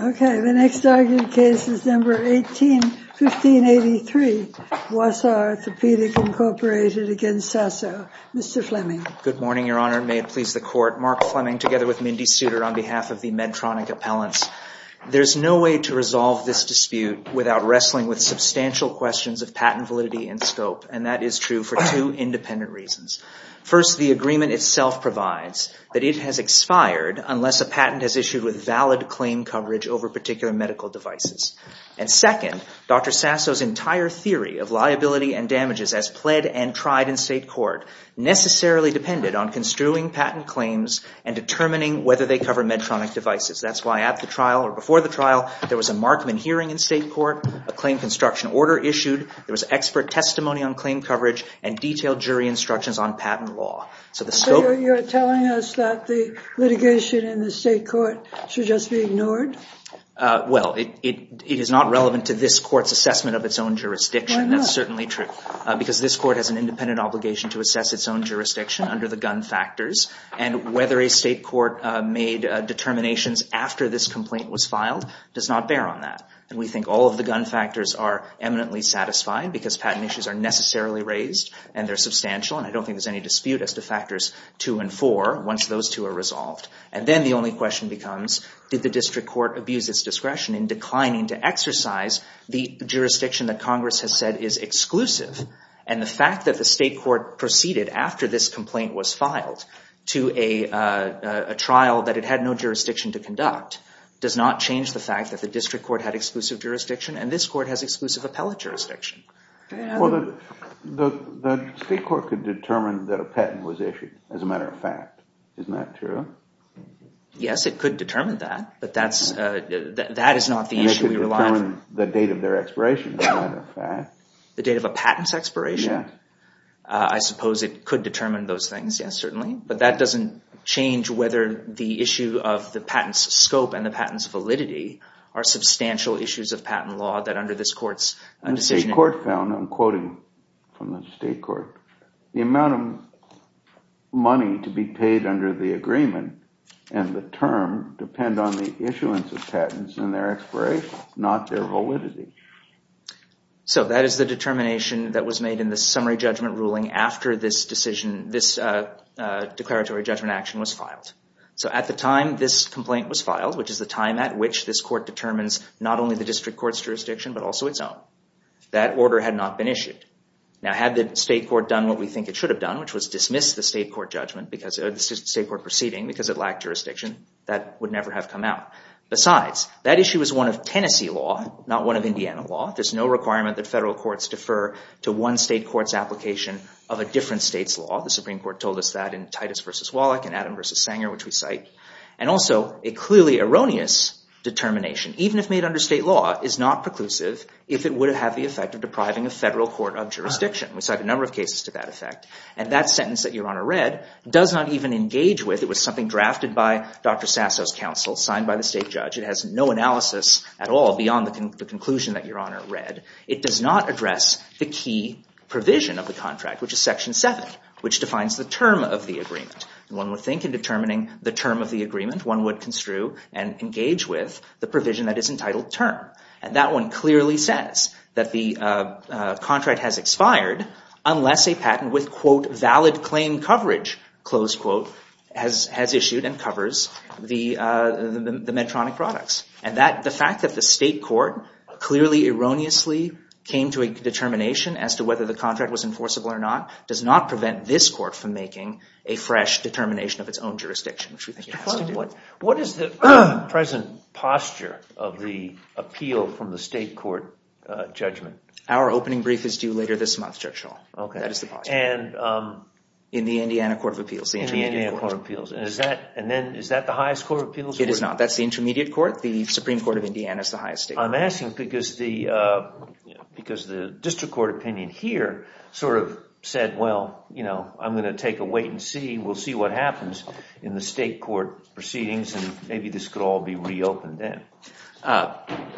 OK, the next argued case is number 18, 1583, Wausau Orthopedic Incorporated against Sasso. Mr. Fleming. Good morning, Your Honor. May it please the court. Mark Fleming, together with Mindy Suter, on behalf of the Medtronic Appellants. There's no way to resolve this dispute without wrestling with substantial questions of patent validity and scope. And that is true for two independent reasons. First, the agreement itself provides that it has expired unless a patent has issued with valid claim coverage over particular medical devices. And second, Dr. Sasso's entire theory of liability and damages as pled and tried in state court necessarily depended on construing patent claims and determining whether they cover Medtronic devices. That's why at the trial or before the trial, there was a Markman hearing in state court, a claim construction order issued, there was expert testimony on claim coverage, and detailed jury instructions on patent law. So the scope of- So you're telling us that the litigation in the state court should just be ignored? Well, it is not relevant to this court's assessment of its own jurisdiction. That's certainly true, because this court has an independent obligation to assess its own jurisdiction under the gun factors. And whether a state court made determinations after this complaint was filed does not bear on that. And we think all of the gun factors are eminently satisfied, because patent issues are necessarily raised, and they're substantial. And I don't think there's any dispute as to factors two and four, once those two are resolved. And then the only question becomes, did the district court abuse its discretion in declining to exercise the jurisdiction that Congress has said is exclusive? And the fact that the state court proceeded after this complaint was filed to a trial that it had no jurisdiction to conduct does not change the fact that the district court had exclusive jurisdiction, and this court has exclusive appellate jurisdiction. Well, the state court could determine that a patent was issued, as a matter of fact. Isn't that true? Yes, it could determine that. But that is not the issue we rely on. The date of their expiration, as a matter of fact. The date of a patent's expiration? I suppose it could determine those things, yes, certainly. But that doesn't change whether the issue of the patent's scope and the patent's validity are substantial issues of patent law that under this court's decision. The state court found, I'm quoting from the state court, the amount of money to be paid under the agreement and the term depend on the issuance of patents and their expiration, not their validity. So that is the determination that was made in the summary judgment ruling after this decision, this declaratory judgment action was filed. So at the time this complaint was filed, which is the time at which this court determines not only the district court's jurisdiction, but also its own. That order had not been issued. Now, had the state court done what we think it should have done, which was dismiss the state court proceeding, because it lacked jurisdiction, that would never have come out. Besides, that issue was one of Tennessee law, not one of Indiana law. There's no requirement that federal courts defer to one state court's application of a different state's law. The Supreme Court told us that in Titus versus Wallach and Adam versus Sanger, which we cite. And also, a clearly erroneous determination, even if made under state law, is not preclusive if it would have the effect of depriving a federal court of jurisdiction. We cite a number of cases to that effect. And that sentence that Your Honor read does not even engage with, it was something drafted by Dr. Sasso's counsel, signed by the state judge. It has no analysis at all beyond the conclusion that Your Honor read. It does not address the key provision of the contract, which is section 7, which defines the term of the agreement. One would think in determining the term of the agreement, one would construe and engage with the provision that is entitled term. And that one clearly says that the contract has expired unless a patent with, quote, valid claim coverage, close quote, has issued and covers the Medtronic products. And the fact that the state court clearly, erroneously came to a determination as to whether the contract was enforceable or not does not prevent this court from making a fresh determination of its own jurisdiction, which we think it has to do. What is the present posture of the appeal from the state court judgment? Our opening brief is due later this month, Judge Shaw. OK. That is the posture. In the Indiana Court of Appeals. In the Indiana Court of Appeals. And then, is that the highest court of appeals? It is not. That's the intermediate court. The Supreme Court of Indiana is the highest state. I'm asking because the district court opinion here sort of said, well, I'm going to take a wait and see. We'll see what happens in the state court proceedings. And maybe this could all be reopened then.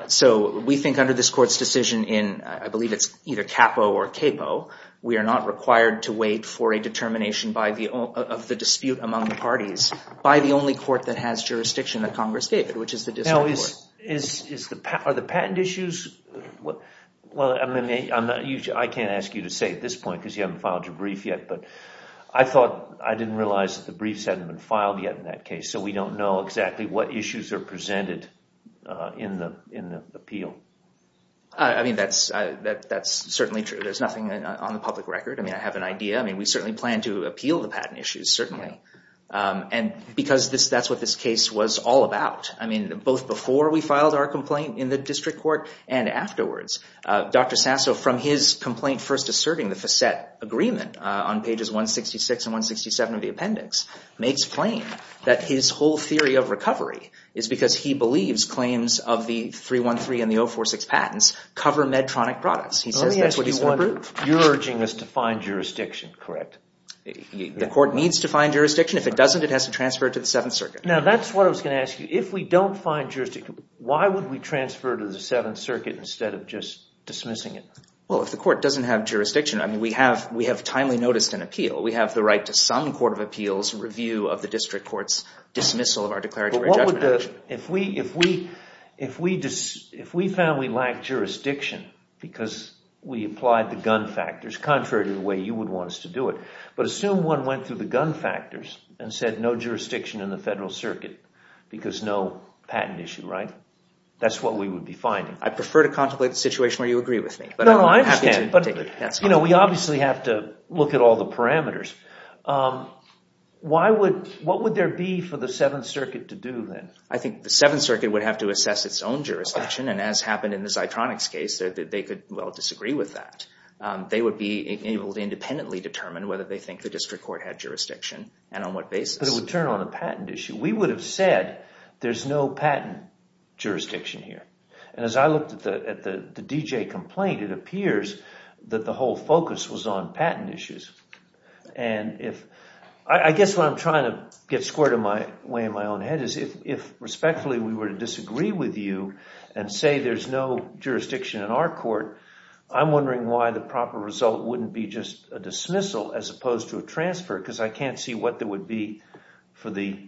So we think under this court's decision in, I believe it's either capo or capo, we are not required to wait for a determination of the dispute among the parties by the only court that has jurisdiction of Congress David, which is the district court. Now, are the patent issues? Well, I mean, I can't ask you to say at this point because you haven't filed your brief yet. But I thought I didn't realize that the briefs hadn't been filed yet in that case. So we don't know exactly what issues are presented in the appeal. I mean, that's certainly true. There's nothing on the public record. I mean, I have an idea. We certainly plan to appeal the patent issues, certainly. And because that's what this case was all about. I mean, both before we filed our complaint in the district court and afterwards. Dr. Sasso, from his complaint first asserting the facet agreement on pages 166 and 167 of the appendix, makes plain that his whole theory of recovery is because he believes claims of the 313 and the 046 patents cover Medtronic products. He says that's what he's going to prove. You're urging us to find jurisdiction, correct? The court needs to find jurisdiction. If it doesn't, it has to transfer it to the Seventh Circuit. Now, that's what I was going to ask you. If we don't find jurisdiction, why would we transfer to the Seventh Circuit instead of just dismissing it? Well, if the court doesn't have jurisdiction, I mean, we have timely noticed an appeal. We have the right to some court of appeals review of the district court's dismissal of our declaratory judgment action. If we found we lacked jurisdiction because we applied the gun factors contrary to the way you would want us to do it, but assume one went through the gun factors and said no jurisdiction in the Federal Circuit because no patent issue, right? That's what we would be finding. I prefer to contemplate the situation where you agree with me. No, no, I understand. But we obviously have to look at all the parameters. Why would, what would there be for the Seventh Circuit to do then? I think the Seventh Circuit would have to assess its own jurisdiction. And as happened in the Zitronix case, they could well disagree with that. They would be able to independently determine whether they think the district court had jurisdiction and on what basis. But it would turn on a patent issue. We would have said there's no patent jurisdiction here. And as I looked at the DJ complaint, it appears that the whole focus was on patent issues. And if, I guess what I'm trying to get squared away in my own head is if respectfully we were to disagree with you and say there's no jurisdiction in our court, I'm wondering why the proper result wouldn't be just a dismissal as opposed to a transfer because I can't see what there would be for the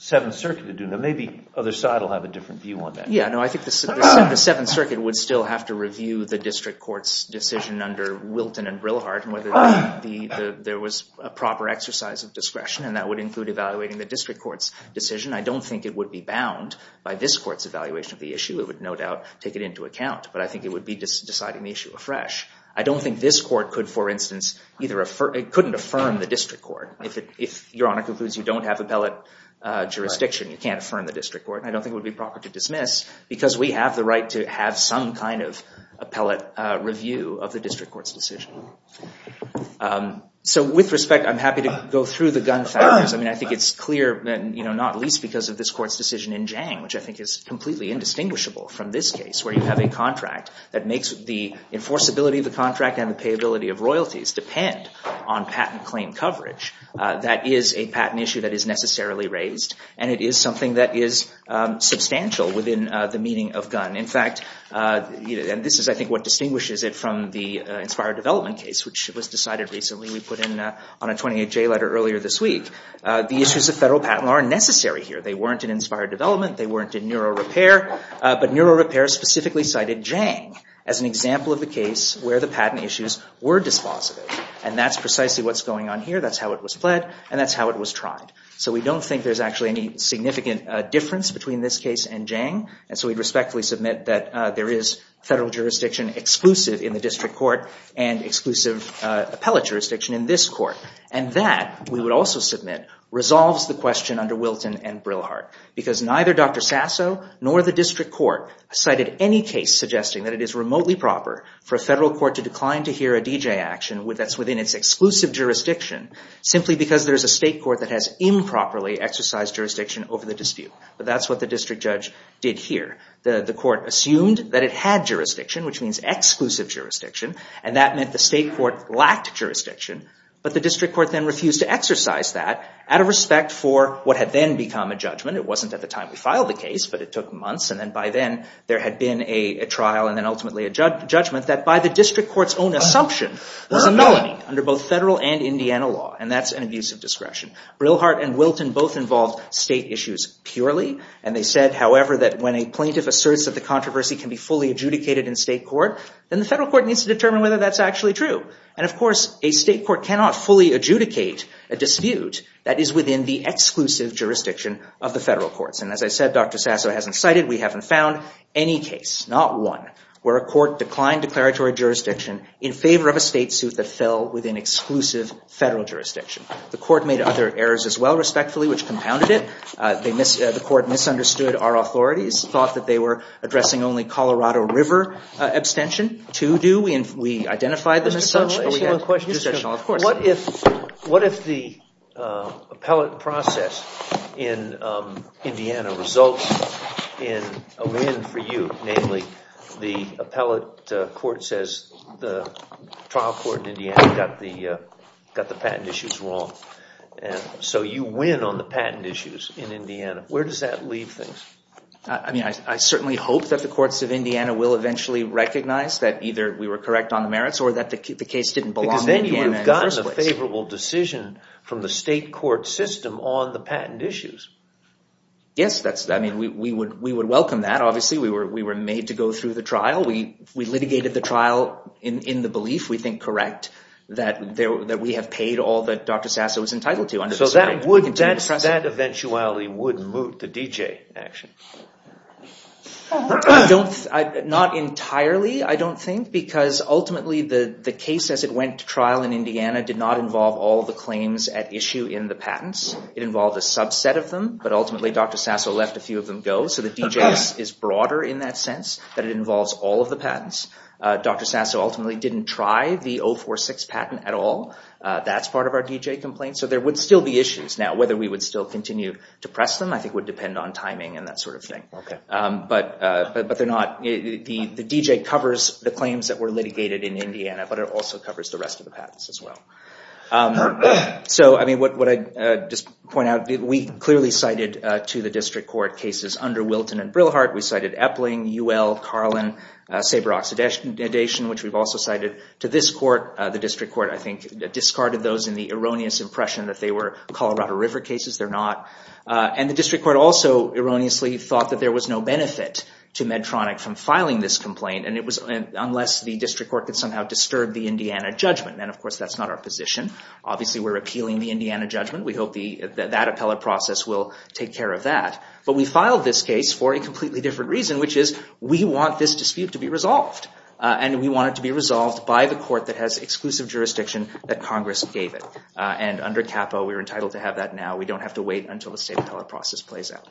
Seventh Circuit to do. Maybe other side will have a different view on that. Yeah, no, I think the Seventh Circuit would still have to review the district court's decision under Wilton and Brilhart and whether there was a proper exercise of discretion. And that would include evaluating the district court's decision. I don't think it would be bound by this court's evaluation of the issue. It would no doubt take it into account. But I think it would be deciding the issue afresh. I don't think this court could, for instance, either affirm, it couldn't affirm the district court. If your honor concludes you don't court. And I don't think it would be proper to dismiss because we have the right to have some kind of appellate review of the district court's decision. So with respect, I'm happy to go through the gun factors. I mean, I think it's clear, not least because of this court's decision in Jang, which I think is completely indistinguishable from this case, where you have a contract that makes the enforceability of the contract and the payability of royalties depend on patent claim coverage. That is a patent issue that is necessarily raised. And it is something that is substantial within the meaning of gun. In fact, and this is, I think, what distinguishes it from the Inspired Development case, which was decided recently. We put in on a 28-J letter earlier this week. The issues of federal patent law are necessary here. They weren't in Inspired Development. They weren't in NeuroRepair. But NeuroRepair specifically cited Jang as an example of a case where the patent issues were dispositive. And that's precisely what's going on here. That's how it was pled. And that's how it was tried. So we don't think there's actually any significant difference between this case and Jang. And so we'd respectfully submit that there is federal jurisdiction exclusive in the district court and exclusive appellate jurisdiction in this court. And that, we would also submit, resolves the question under Wilton and Brillhardt. Because neither Dr. Sasso nor the district court cited any case suggesting that it is remotely proper for a federal court to decline to hear a DJ action that's within its exclusive jurisdiction simply because there is a state that improperly exercised jurisdiction over the dispute. But that's what the district judge did here. The court assumed that it had jurisdiction, which means exclusive jurisdiction. And that meant the state court lacked jurisdiction. But the district court then refused to exercise that out of respect for what had then become a judgment. It wasn't at the time we filed the case, but it took months. And then by then, there had been a trial and then ultimately a judgment that by the district court's own assumption, there's a melony under both federal and Indiana law. And that's an abuse of discretion. Brillhardt and Wilton both involved state issues purely. And they said, however, that when a plaintiff asserts that the controversy can be fully adjudicated in state court, then the federal court needs to determine whether that's actually true. And of course, a state court cannot fully adjudicate a dispute that is within the exclusive jurisdiction of the federal courts. And as I said, Dr. Sasso hasn't cited. We haven't found any case, not one, where a court declined declaratory jurisdiction in favor of a state suit that fell within exclusive federal jurisdiction. The court made other errors as well, respectfully, which compounded it. The court misunderstood our authorities, thought that they were addressing only Colorado River abstention. To do, we identified them as such. Mr. Sasso, I just have one question. Of course. What if the appellate process in Indiana results in a win for you? Namely, the appellate court says the trial court in Indiana got the patent issues wrong. So you win on the patent issues in Indiana. Where does that leave things? I mean, I certainly hope that the courts of Indiana will eventually recognize that either we were correct on the merits or that the case didn't belong to Indiana in the first place. Because then you would have gotten a favorable decision from the state court system on the patent issues. Yes, I mean, we would welcome that, obviously. We were made to go through the trial. We litigated the trial in the belief we think correct, that we have paid all that Dr. Sasso was entitled to under the circumstances. So that eventually would moot the DJ action? Not entirely, I don't think. Because ultimately, the case as it went to trial in Indiana did not involve all of the claims at issue in the patents. It involved a subset of them. But ultimately, Dr. Sasso left a few of them go. So the DJ is broader in that sense, that it involves all of the patents. Dr. Sasso ultimately didn't try the 046 patent at all. That's part of our DJ complaint. So there would still be issues. Now, whether we would still continue to press them, I think, would depend on timing and that sort of thing. But the DJ covers the claims that were litigated in Indiana. But it also covers the rest of the patents as well. So I mean, what I'd just point out, we clearly cited to the district court cases under Wilton and Brillhardt. We cited Epling, UL, Carlin, Saber-Oxidation, which we've also cited to this court. The district court, I think, discarded those in the erroneous impression that they were Colorado River cases. They're not. And the district court also erroneously thought that there was no benefit to Medtronic from filing this complaint, unless the district court could somehow disturb the Indiana judgment. And of course, that's not our position. Obviously, we're appealing the Indiana judgment. We hope that that appellate process will take care of that. But we filed this case for a completely different reason, which is we want this dispute to be resolved. And we want it to be resolved by the court that has exclusive jurisdiction that Congress gave it. And under CAPA, we're entitled to have that now. We don't have to wait until the state appellate process plays out.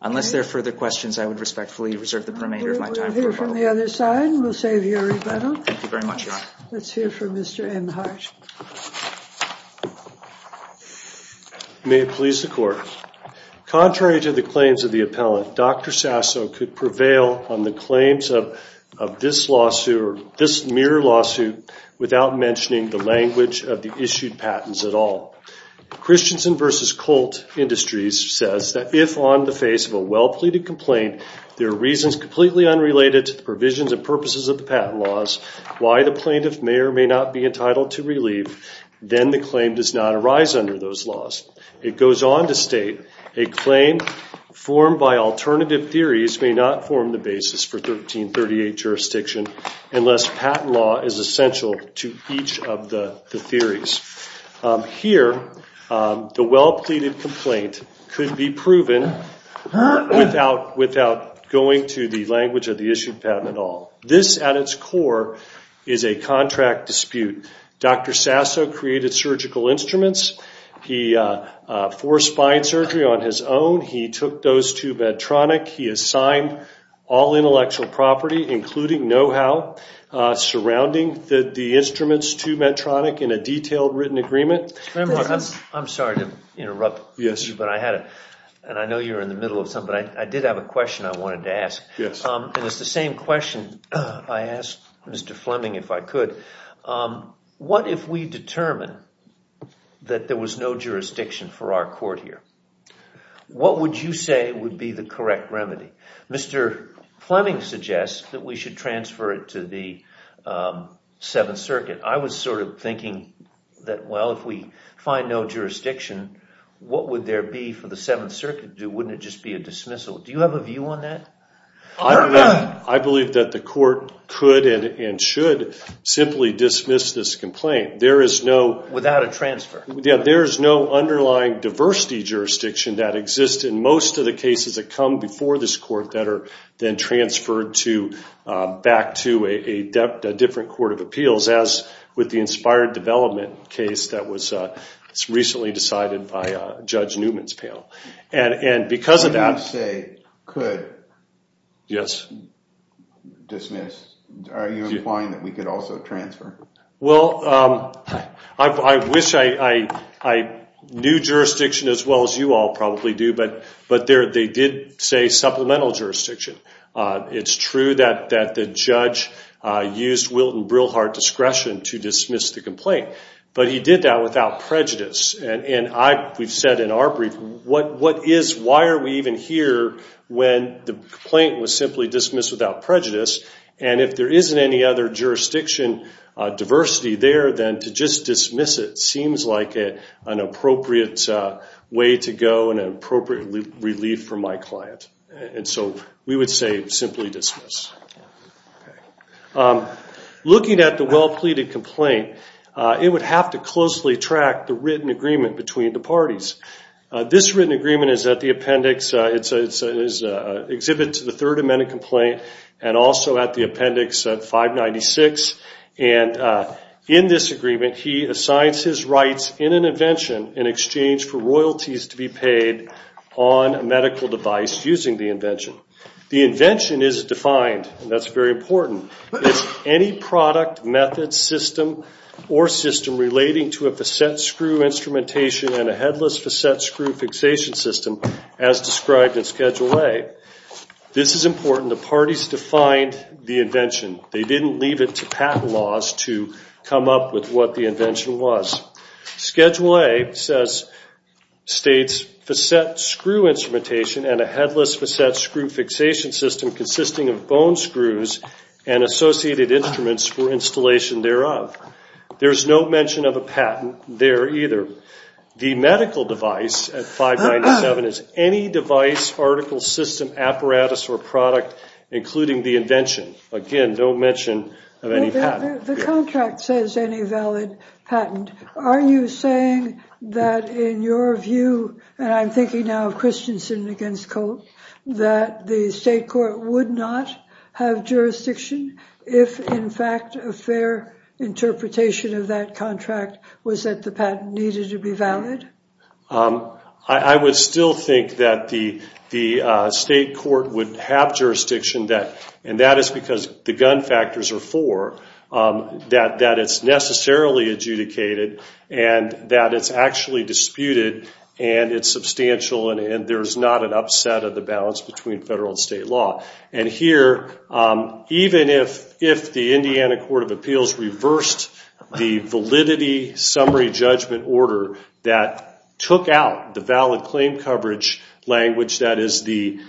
Unless there are further questions, I would respectfully reserve the remainder of my time for rebuttal. We'll hear from the other side. We'll save your rebuttal. Thank you very much, Your Honor. Let's hear from Mr. M. Hart. May it please the court. Contrary to the claims of the appellant, Dr. Sasso could prevail on the claims of this mere lawsuit without mentioning the language of the issued patents at all. Christensen v. Colt Industries says that if on the face of a well-pleaded complaint, there are reasons completely unrelated to the provisions and purposes of the patent laws, why the plaintiff may or may not be entitled to relieve, then the claim does not arise under those laws. It goes on to state, a claim formed by alternative theories may not form the basis for 1338 jurisdiction unless patent law is essential to each of the theories. Here, the well-pleaded complaint could be proven without going to the language of the issued patent at all. This, at its core, is a contract dispute. Dr. Sasso created surgical instruments. He forced spine surgery on his own. He took those to Medtronic. He assigned all intellectual property, including know-how, surrounding the instruments to Medtronic in a detailed written agreement. I'm sorry to interrupt you, but I had a, and I know you're in the middle of something, I did have a question I wanted to ask. And it's the same question I asked Mr. Fleming, if I could. What if we determine that there was no jurisdiction for our court here? What would you say would be the correct remedy? Mr. Fleming suggests that we should transfer it to the Seventh Circuit. I was sort of thinking that, well, if we find no jurisdiction, what would there be for the Seventh Circuit to do? Wouldn't it just be a dismissal? Do you have a view on that? I believe that the court could and should simply dismiss this complaint. There is no. Without a transfer. Yeah, there is no underlying diversity jurisdiction that exists in most of the cases that come before this court that are then transferred back to a different court of appeals by Judge Newman's panel. And because of that. What do you say could dismiss? Are you implying that we could also transfer? Well, I wish I knew jurisdiction as well as you all probably do, but they did say supplemental jurisdiction. It's true that the judge used Wilton Brilhart discretion to dismiss the complaint. But he did that without prejudice. And we've said in our brief, why are we even here when the complaint was simply dismissed without prejudice? And if there isn't any other jurisdiction diversity there, then to just dismiss it seems like an appropriate way to go and an appropriate relief for my client. And so we would say simply dismiss. Looking at the well-pleaded complaint, it would have to closely track the written agreement between the parties. This written agreement is at the appendix. It's an exhibit to the Third Amendment complaint and also at the appendix at 596. And in this agreement, he assigns his rights in an invention in exchange for royalties to be paid on a medical device using the invention. The invention is defined, and that's very important. It's any product, method, system, or system relating to a facet screw instrumentation and a headless facet screw fixation system as described in Schedule A. This is important. The parties defined the invention. They didn't leave it to patent laws to come up with what the invention was. Schedule A states facet screw instrumentation and a headless facet screw fixation system consisting of bone screws and associated instruments for installation thereof. There is no mention of a patent there either. The medical device at 597 is any device, article, system, apparatus, or product, including the invention. Again, no mention of any patent. The contract says any valid patent. Are you saying that in your view, and I'm thinking now of Christensen against Colt, that the state court would not have jurisdiction if, in fact, a fair interpretation of that contract was that the patent needed to be valid? I would still think that the state court would have jurisdiction that, and that is because the gun factors are four, that it's necessarily adjudicated and that it's actually disputed and it's substantial and there's not an upset of the balance between federal and state law. And here, even if the Indiana Court of Appeals reversed the validity summary judgment order that took out the valid claim coverage language that is the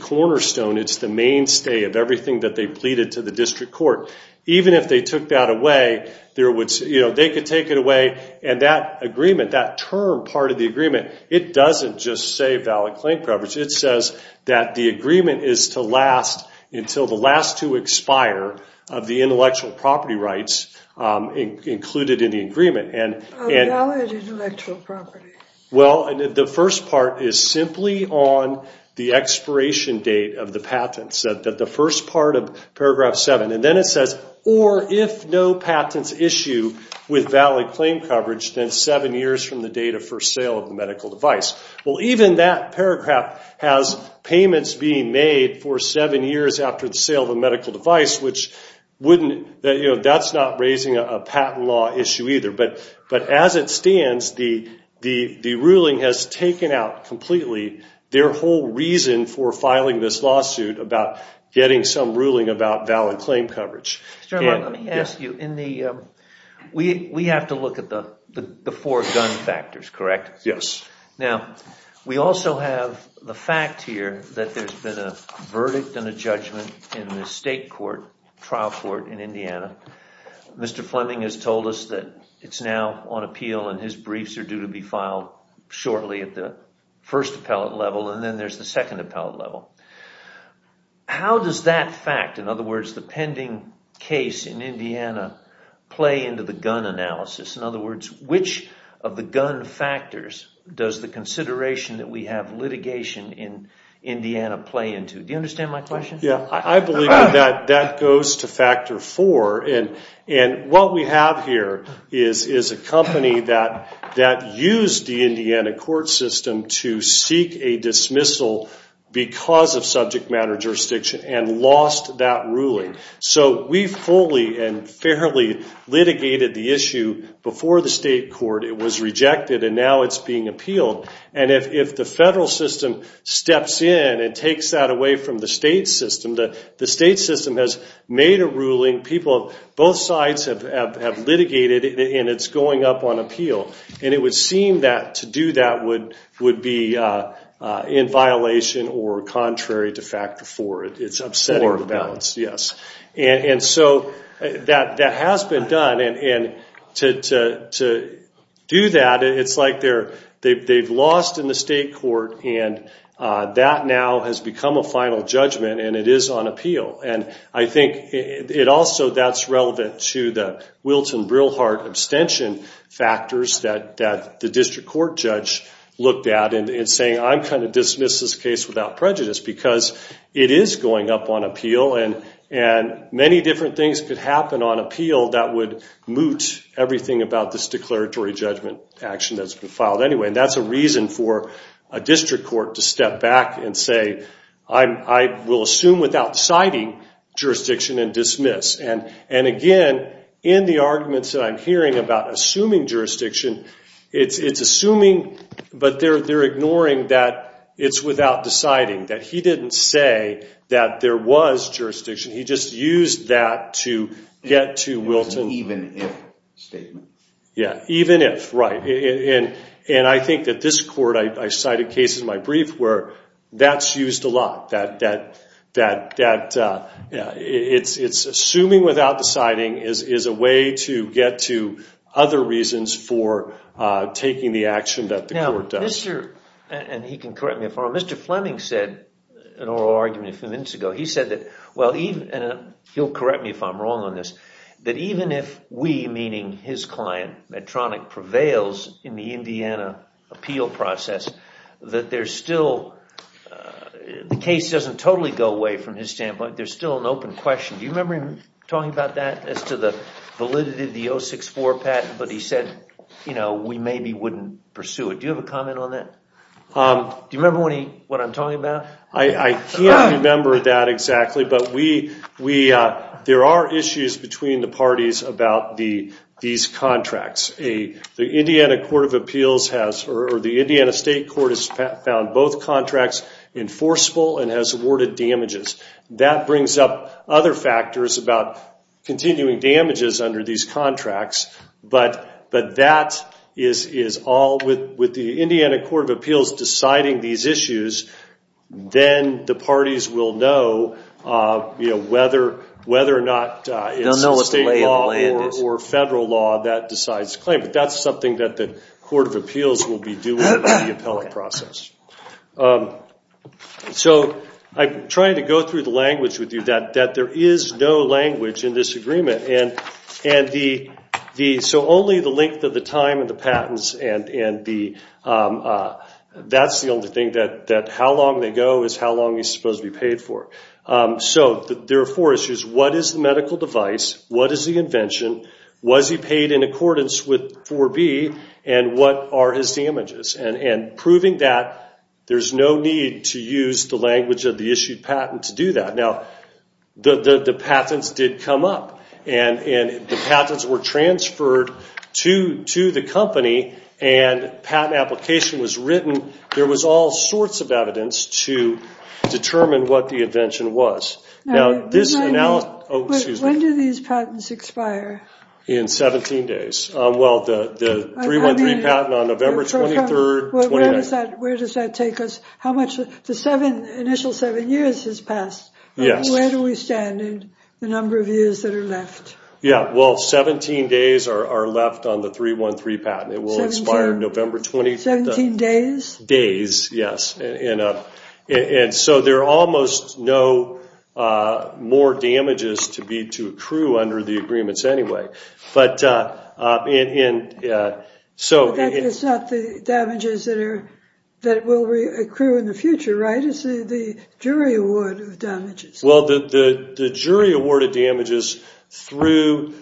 cornerstone, it's the mainstay of everything that they pleaded to the district court, even if they took that away, they could take it away and that agreement, that term part of the agreement, it doesn't just say valid claim coverage. It says that the agreement is to last until the last two expire of the intellectual property rights included in the agreement. A valid intellectual property. Well, the first part is simply on the expiration date of the patent, the first part of paragraph 7. And then it says, or if no patents issue with valid claim coverage, then seven years from the date of first sale of the medical device. Well, even that paragraph has payments being made for seven years after the sale of a medical device, which that's not raising a patent law issue either. But as it stands, the ruling has taken out completely their whole reason for filing this lawsuit about getting some ruling about valid claim coverage. Mr. Herman, let me ask you, we have to look at the four gun factors, correct? Yes. Now, we also have the fact here that there's been a verdict and a judgment in the state trial court in Indiana. Mr. Fleming has told us that it's now on appeal and his briefs are due to be filed shortly at the first appellate level. And then there's the second appellate level. How does that fact, in other words, the pending case in Indiana, play into the gun analysis? In other words, which of the gun factors does the consideration that we have litigation in Indiana play into? Do you understand my question? I believe that that goes to factor four. And what we have here is a company that used the Indiana court system to seek a dismissal because of subject matter jurisdiction and lost that ruling. So we fully and fairly litigated the issue before the state court. It was rejected, and now it's being appealed. And if the federal system steps in and takes that away from the state system, the state system has made a ruling. Both sides have litigated, and it's going up on appeal. And it would seem that to do that would be in violation or contrary to factor four. It's upsetting the balance. Yes. And so that has been done. And to do that, it's like they've lost in the state court, and that now has become a final judgment, and it is on appeal. And I think also that's relevant to the Wilton-Brilhard abstention factors that the district court judge looked at in saying, I'm going to dismiss this case without prejudice because it is going up on appeal. And many different things could happen on appeal that would moot everything about this declaratory judgment action that's been filed. Anyway, that's a reason for a district court to step back and say, I will assume without citing jurisdiction and dismiss. And again, in the arguments that I'm hearing about assuming jurisdiction, it's assuming, but they're ignoring that it's without deciding, that he didn't say that there was jurisdiction. He just used that to get to Wilton. It was an even if statement. Yeah, even if, right. And I think that this court, I cited cases in my brief where that's used a lot, that it's assuming without deciding is a way to get to other reasons for taking the action that the court does. And he can correct me if I'm wrong. Mr. Fleming said in an oral argument a few minutes ago, he said that, well, he'll correct me if I'm wrong on this, that even if we, meaning his client, Medtronic, prevails in the Indiana appeal process, that there's still, the case doesn't totally go away from his standpoint. There's still an open question. Do you remember him talking about that as to the validity of the 064 patent? But he said, you know, we maybe wouldn't pursue it. Do you have a comment on that? Do you remember what I'm talking about? I can't remember that exactly. But there are issues between the parties about these contracts. The Indiana Court of Appeals has, or the Indiana State Court has found both contracts enforceable and has awarded damages. That brings up other factors about continuing damages under these contracts. But that is all, with the Indiana Court of Appeals deciding these issues, then the parties will know whether or not it's a state law or federal law that decides the claim. But that's something that the Court of Appeals will be doing in the appellate process. So I'm trying to go through the language with you that there is no language in this agreement. And so only the length of the time of the patents, and that's the only thing, that how long they go is how long he's supposed to be paid for. So there are four issues. What is the medical device? What is the invention? Was he paid in accordance with 4B? And what are his damages? And proving that, there's no need to use the language of the issued patent to do that. Now, the patents did come up, and the patents were transferred to the company, and patent application was written. There was all sorts of evidence to determine what the invention was. Now, this analysis- When do these patents expire? In 17 days. Well, the 313 patent on November 23rd. Where does that take us? How much? The initial seven years has passed. Where do we stand in the number of years that are left? Yeah, well, 17 days are left on the 313 patent. It will expire November 23rd. 17 days? Days, yes. And so there are almost no more damages to accrue under the agreements anyway. But that's not the damages that will accrue in the future, right? It's the jury award of damages. Well, the jury award of damages through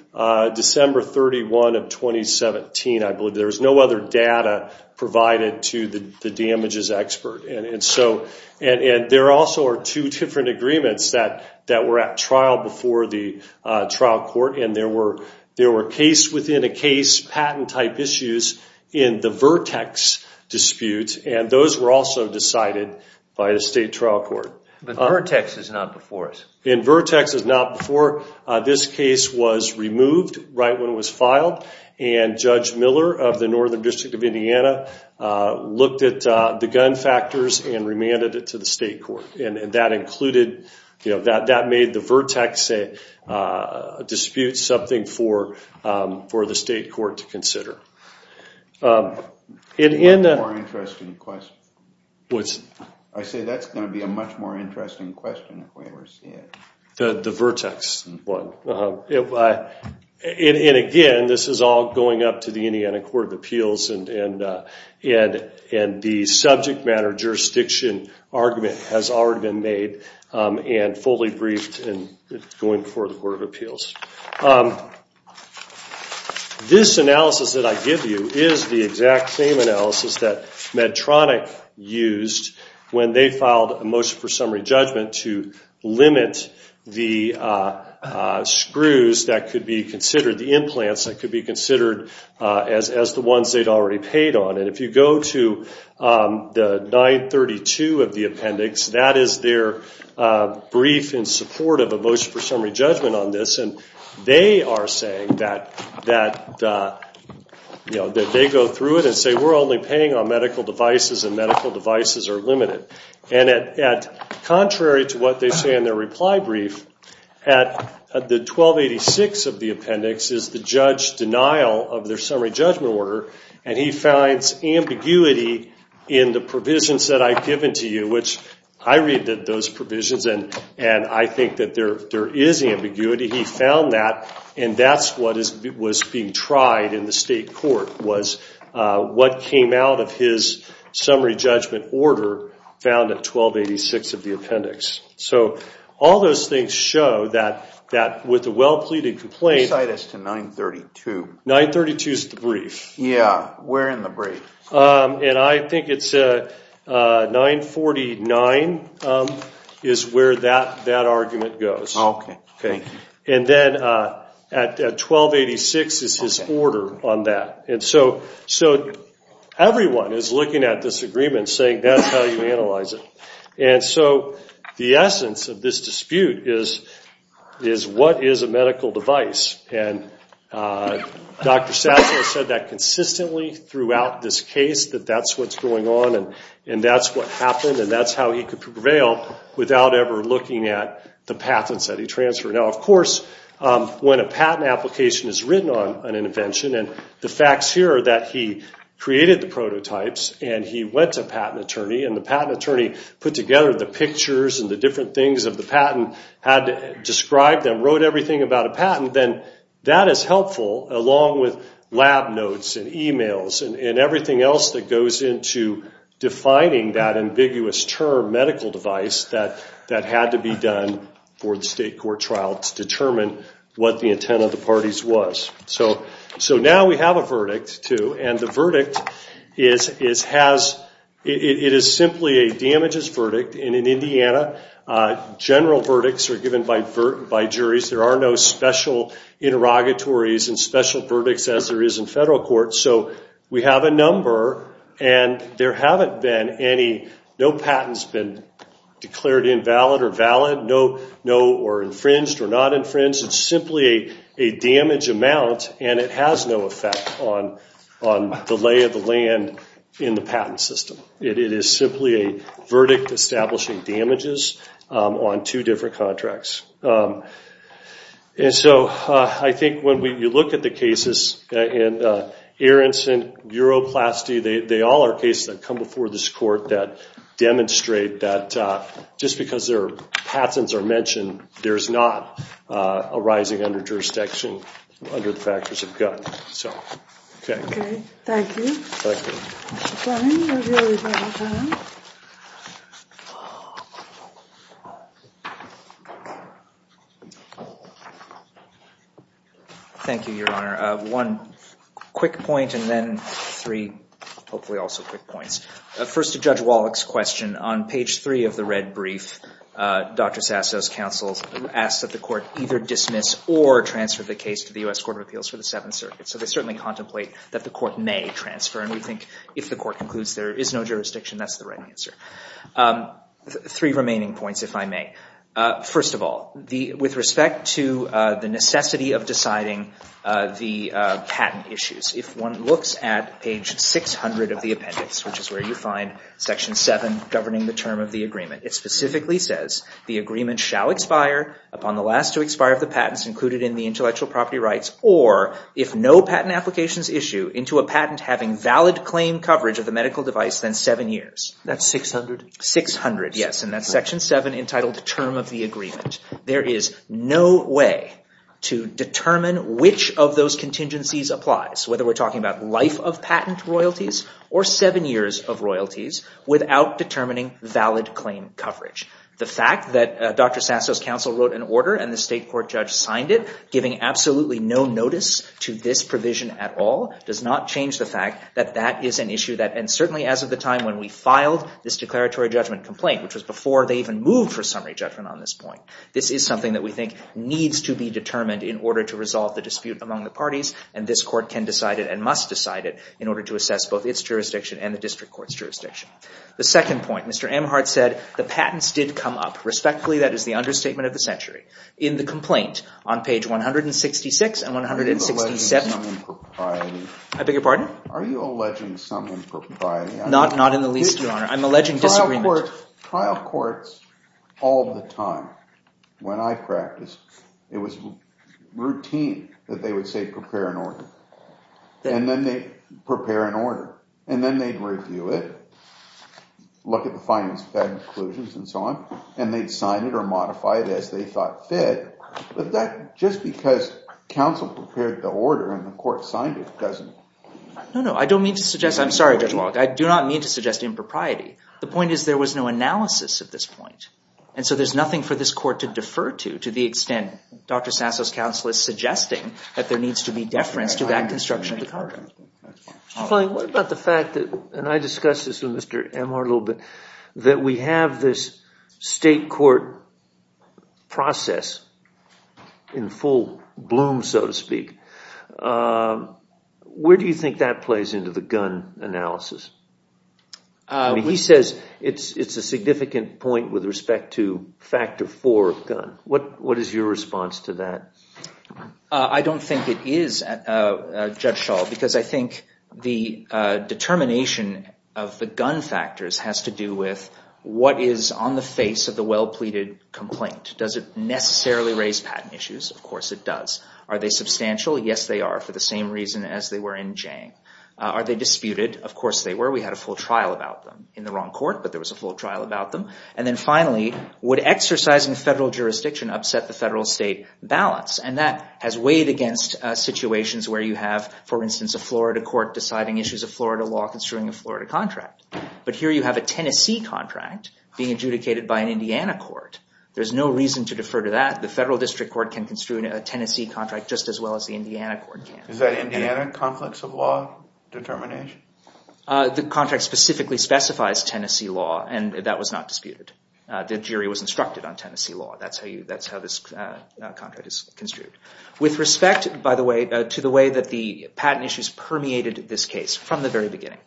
December 31 of 2017, I believe. There's no other data provided to the damages expert. And there also are two different agreements that were at trial before the trial court, and there were case-within-a-case patent-type issues in the Vertex dispute. And those were also decided by the state trial court. But Vertex is not before us. And Vertex is not before. This case was removed right when it was filed, and Judge Miller of the Northern District of Indiana looked at the gun factors and remanded it to the state court. And that included, that made the Vertex dispute something for the state court to consider. And in the- A more interesting question. I say that's going to be a much more interesting question if we ever see it. The Vertex one. And again, this is all going up to the Indiana Court of Appeals and the subject matter jurisdiction argument has already been made and fully briefed and going before the Court of Appeals. This analysis that I give you is the exact same analysis that Medtronic used when they filed a motion for summary judgment to limit the screws that could be considered, the implants that could be considered as the ones they'd already paid on. And if you go to the 932 of the appendix, that is their brief in support of a motion for summary judgment on this. And they are saying that they go through it and say, we're only paying on medical devices and medical devices are limited. And contrary to what they say in their reply brief, at the 1286 of the appendix is the judge's denial of their summary judgment order. And he finds ambiguity in the provisions that I've given to you, which I read those provisions and I think that there is ambiguity. He found that. And that's what was being tried in the state court, was what came out of his summary judgment order found at 1286 of the appendix. So all those things show that with a well-pleaded complaint. Aside as to 932. 932 is the brief. Where in the brief? And I think it's 949 is where that argument goes. And then at 1286 is his order on that. And so everyone is looking at this agreement saying that's how you analyze it. And so the essence of this dispute is, what is a medical device? And Dr. Sassler said that consistently throughout this case, that that's what's going on and that's what happened and that's how he could prevail without ever looking at the patents that he transferred. Now, of course, when a patent application is written on an invention, and the facts here are that he created the prototypes and he went to a patent attorney. And the patent attorney put together the pictures and the different things that the patent had described and wrote everything about a patent, then that is helpful along with lab notes and emails and everything else that goes into defining that ambiguous term medical device that had to be done for the state court trial to determine what the intent of the parties was. So now we have a verdict, too. And the verdict, it is simply a damages verdict. And in Indiana, general verdicts are given by juries. There are no special interrogatories and special verdicts as there is in federal court. So we have a number. And there haven't been any, no patent's been declared invalid or valid or infringed or not infringed. It's simply a damage amount. And it has no effect on the lay of the land in the patent system. It is simply a verdict establishing damages on two different contracts. And so I think when you look at the cases in Aronson, Uroplasty, they all are cases that come before this court that demonstrate that just because their patents are mentioned, there's not a rising under jurisdiction under the factors of gun. So, OK. OK. Thank you. Thank you. Mr. Brennan, you're the only one. Mr. Brennan. Thank you, Your Honor. One quick point and then three hopefully also quick points. First to Judge Wallach's question, on page three of the red brief, Dr. Sasso's counsel asks that the court either dismiss or transfer the case to the US Court of Appeals for the Seventh Circuit. So they certainly contemplate that the court may transfer. And we think if the court concludes there is no jurisdiction, that's the right answer. Three remaining points, if I may. First of all, with respect to the necessity of deciding the patent issues, if one looks at page 600 of the appendix, which is where you find section 7 governing the term of the agreement, it specifically says the agreement shall expire upon the last to expire of the patents included in the intellectual property rights or if no patent applications issue into a patent having valid claim coverage of the medical device than seven years. That's 600? 600, yes. And that's section 7 entitled the term of the agreement. There is no way to determine which of those contingencies applies, whether we're talking about life of patent royalties or seven years of royalties, without determining valid claim coverage. The fact that Dr. Sasso's counsel wrote an order and the state court judge signed it, giving absolutely no notice to this provision at all, does not change the fact that that is an issue that, and certainly as of the time when we filed this declaratory judgment complaint, which was before they even moved for summary judgment on this point, this is something that we think needs to be determined in order to resolve the dispute among the parties. And this court can decide it and must decide it in order to assess both its jurisdiction and the district court's jurisdiction. The second point, Mr. Amhart said, the patents did come up. Respectfully, that is the understatement of the century. In the complaint on page 166 and 167, I beg your pardon? Are you alleging some impropriety? Not in the least, Your Honor. I'm alleging disagreement. Trial courts, all the time, when I practiced, it was routine that they would say prepare an order. And then they'd prepare an order. And then they'd review it, look at the findings, bad conclusions, and so on. And they'd sign it or modify it as they thought fit. But just because counsel prepared the order and the court signed it doesn't mean that the court is wrong. No, no, I don't mean to suggest. I'm sorry, Judge Locke. I do not mean to suggest impropriety. The point is there was no analysis at this point. And so there's nothing for this court to defer to, to the extent Dr. Sasso's counsel is suggesting that there needs to be deference to that construction of the contract. Mr. Foley, what about the fact that, and I discussed this with Mr. Amhart a little bit, that we have this state court process in full bloom, so to speak. Where do you think that plays into the gun analysis? He says it's a significant point with respect to factor four of gun. What is your response to that? I don't think it is, Judge Schall, because I think the determination of the gun factors has to do with what is on the face of the well-pleaded complaint. Does it necessarily raise patent issues? Of course it does. Are they substantial? Yes, they are, for the same reason as they were in Jang. Are they disputed? Of course they were. We had a full trial about them in the wrong court, but there was a full trial about them. And then finally, would exercising federal jurisdiction upset the federal state balance? And that has weighed against situations where you have, for instance, a Florida court deciding issues of Florida law construing a Florida contract. But here you have a Tennessee contract being adjudicated by an Indiana court. There's no reason to defer to that. The federal district court can construe a Tennessee contract just as well as the Indiana court can. Is that Indiana conflicts of law determination? The contract specifically specifies Tennessee law, and that was not disputed. The jury was instructed on Tennessee law. That's how this contract is construed. With respect, by the way, to the way that the patent issues permeated this case from the very beginning,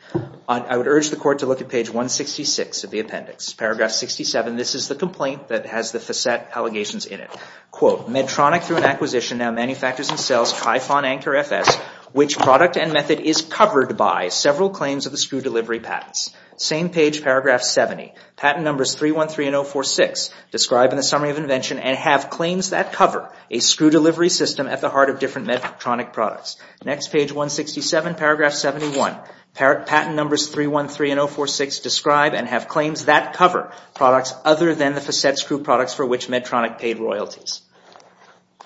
I would urge the court to look at page 166 of the appendix, paragraph 67. This is the complaint that has the facet allegations in it. Quote, Medtronic through an acquisition now manufactures and sells Trifon Anchor FS, which product and method is covered by several claims of the screw delivery patents. Same page, paragraph 70. Patent numbers 313 and 046 describe in the summary of invention and have claims that cover a screw delivery system at the heart of different Medtronic products. Next page, 167, paragraph 71. Patent numbers 313 and 046 describe and have other than the facet screw products for which Medtronic paid royalties.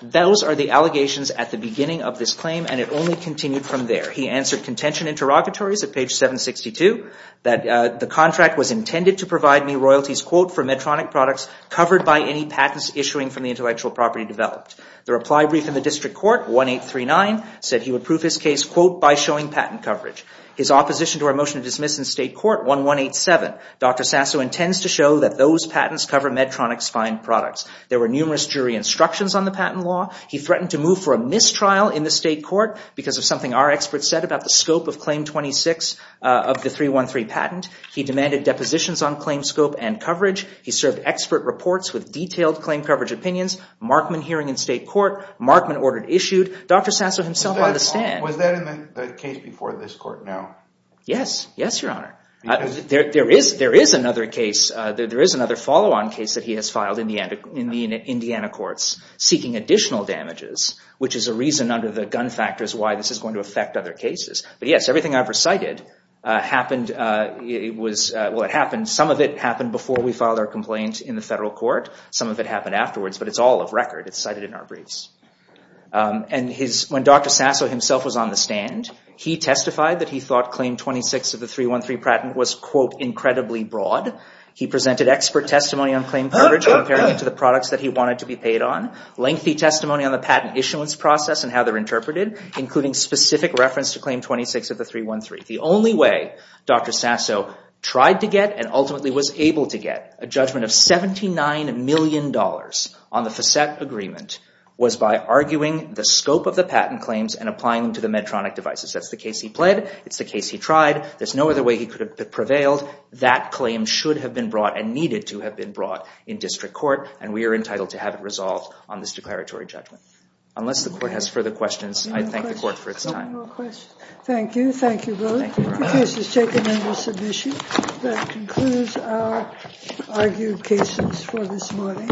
Those are the allegations at the beginning of this claim, and it only continued from there. He answered contention interrogatories at page 762 that the contract was intended to provide me royalties, quote, for Medtronic products covered by any patents issuing from the intellectual property developed. The reply brief in the district court, 1839, said he would prove his case, quote, by showing patent coverage. His opposition to our motion to dismiss in state court, 1187, Dr. Sasso intends to show that those patents cover Medtronic's fine products. There were numerous jury instructions on the patent law. He threatened to move for a mistrial in the state court because of something our experts said about the scope of claim 26 of the 313 patent. He demanded depositions on claim scope and coverage. He served expert reports with detailed claim coverage opinions. Markman hearing in state court. Markman ordered issued. Dr. Sasso himself on the stand. Was that in the case before this court now? Yes. Yes, Your Honor. There is another case. There is another follow-on case that he has filed in the Indiana courts seeking additional damages, which is a reason under the gun factors why this is going to affect other cases. But yes, everything I've recited happened. Well, it happened. Some of it happened before we filed our complaint in the federal court. Some of it happened afterwards. But it's all of record. It's cited in our briefs. And when Dr. Sasso himself was on the stand, he testified that he thought claim 26 of the 313 patent was, quote, incredibly broad. He presented expert testimony on claim coverage comparing it to the products that he wanted to be paid on. Lengthy testimony on the patent issuance process and how they're interpreted, including specific reference to claim 26 of the 313. The only way Dr. Sasso tried to get and ultimately was able to get a judgment of $79 million on the facet agreement was by arguing the scope of the patent claims and applying them to the Medtronic devices. That's the case he pled. It's the case he tried. There's no other way he could have prevailed. That claim should have been brought and needed to have been brought in district court. And we are entitled to have it resolved on this declaratory judgment. Unless the court has further questions, I thank the court for its time. Thank you. Thank you both. The case is taken under submission. That concludes our argued cases for this morning.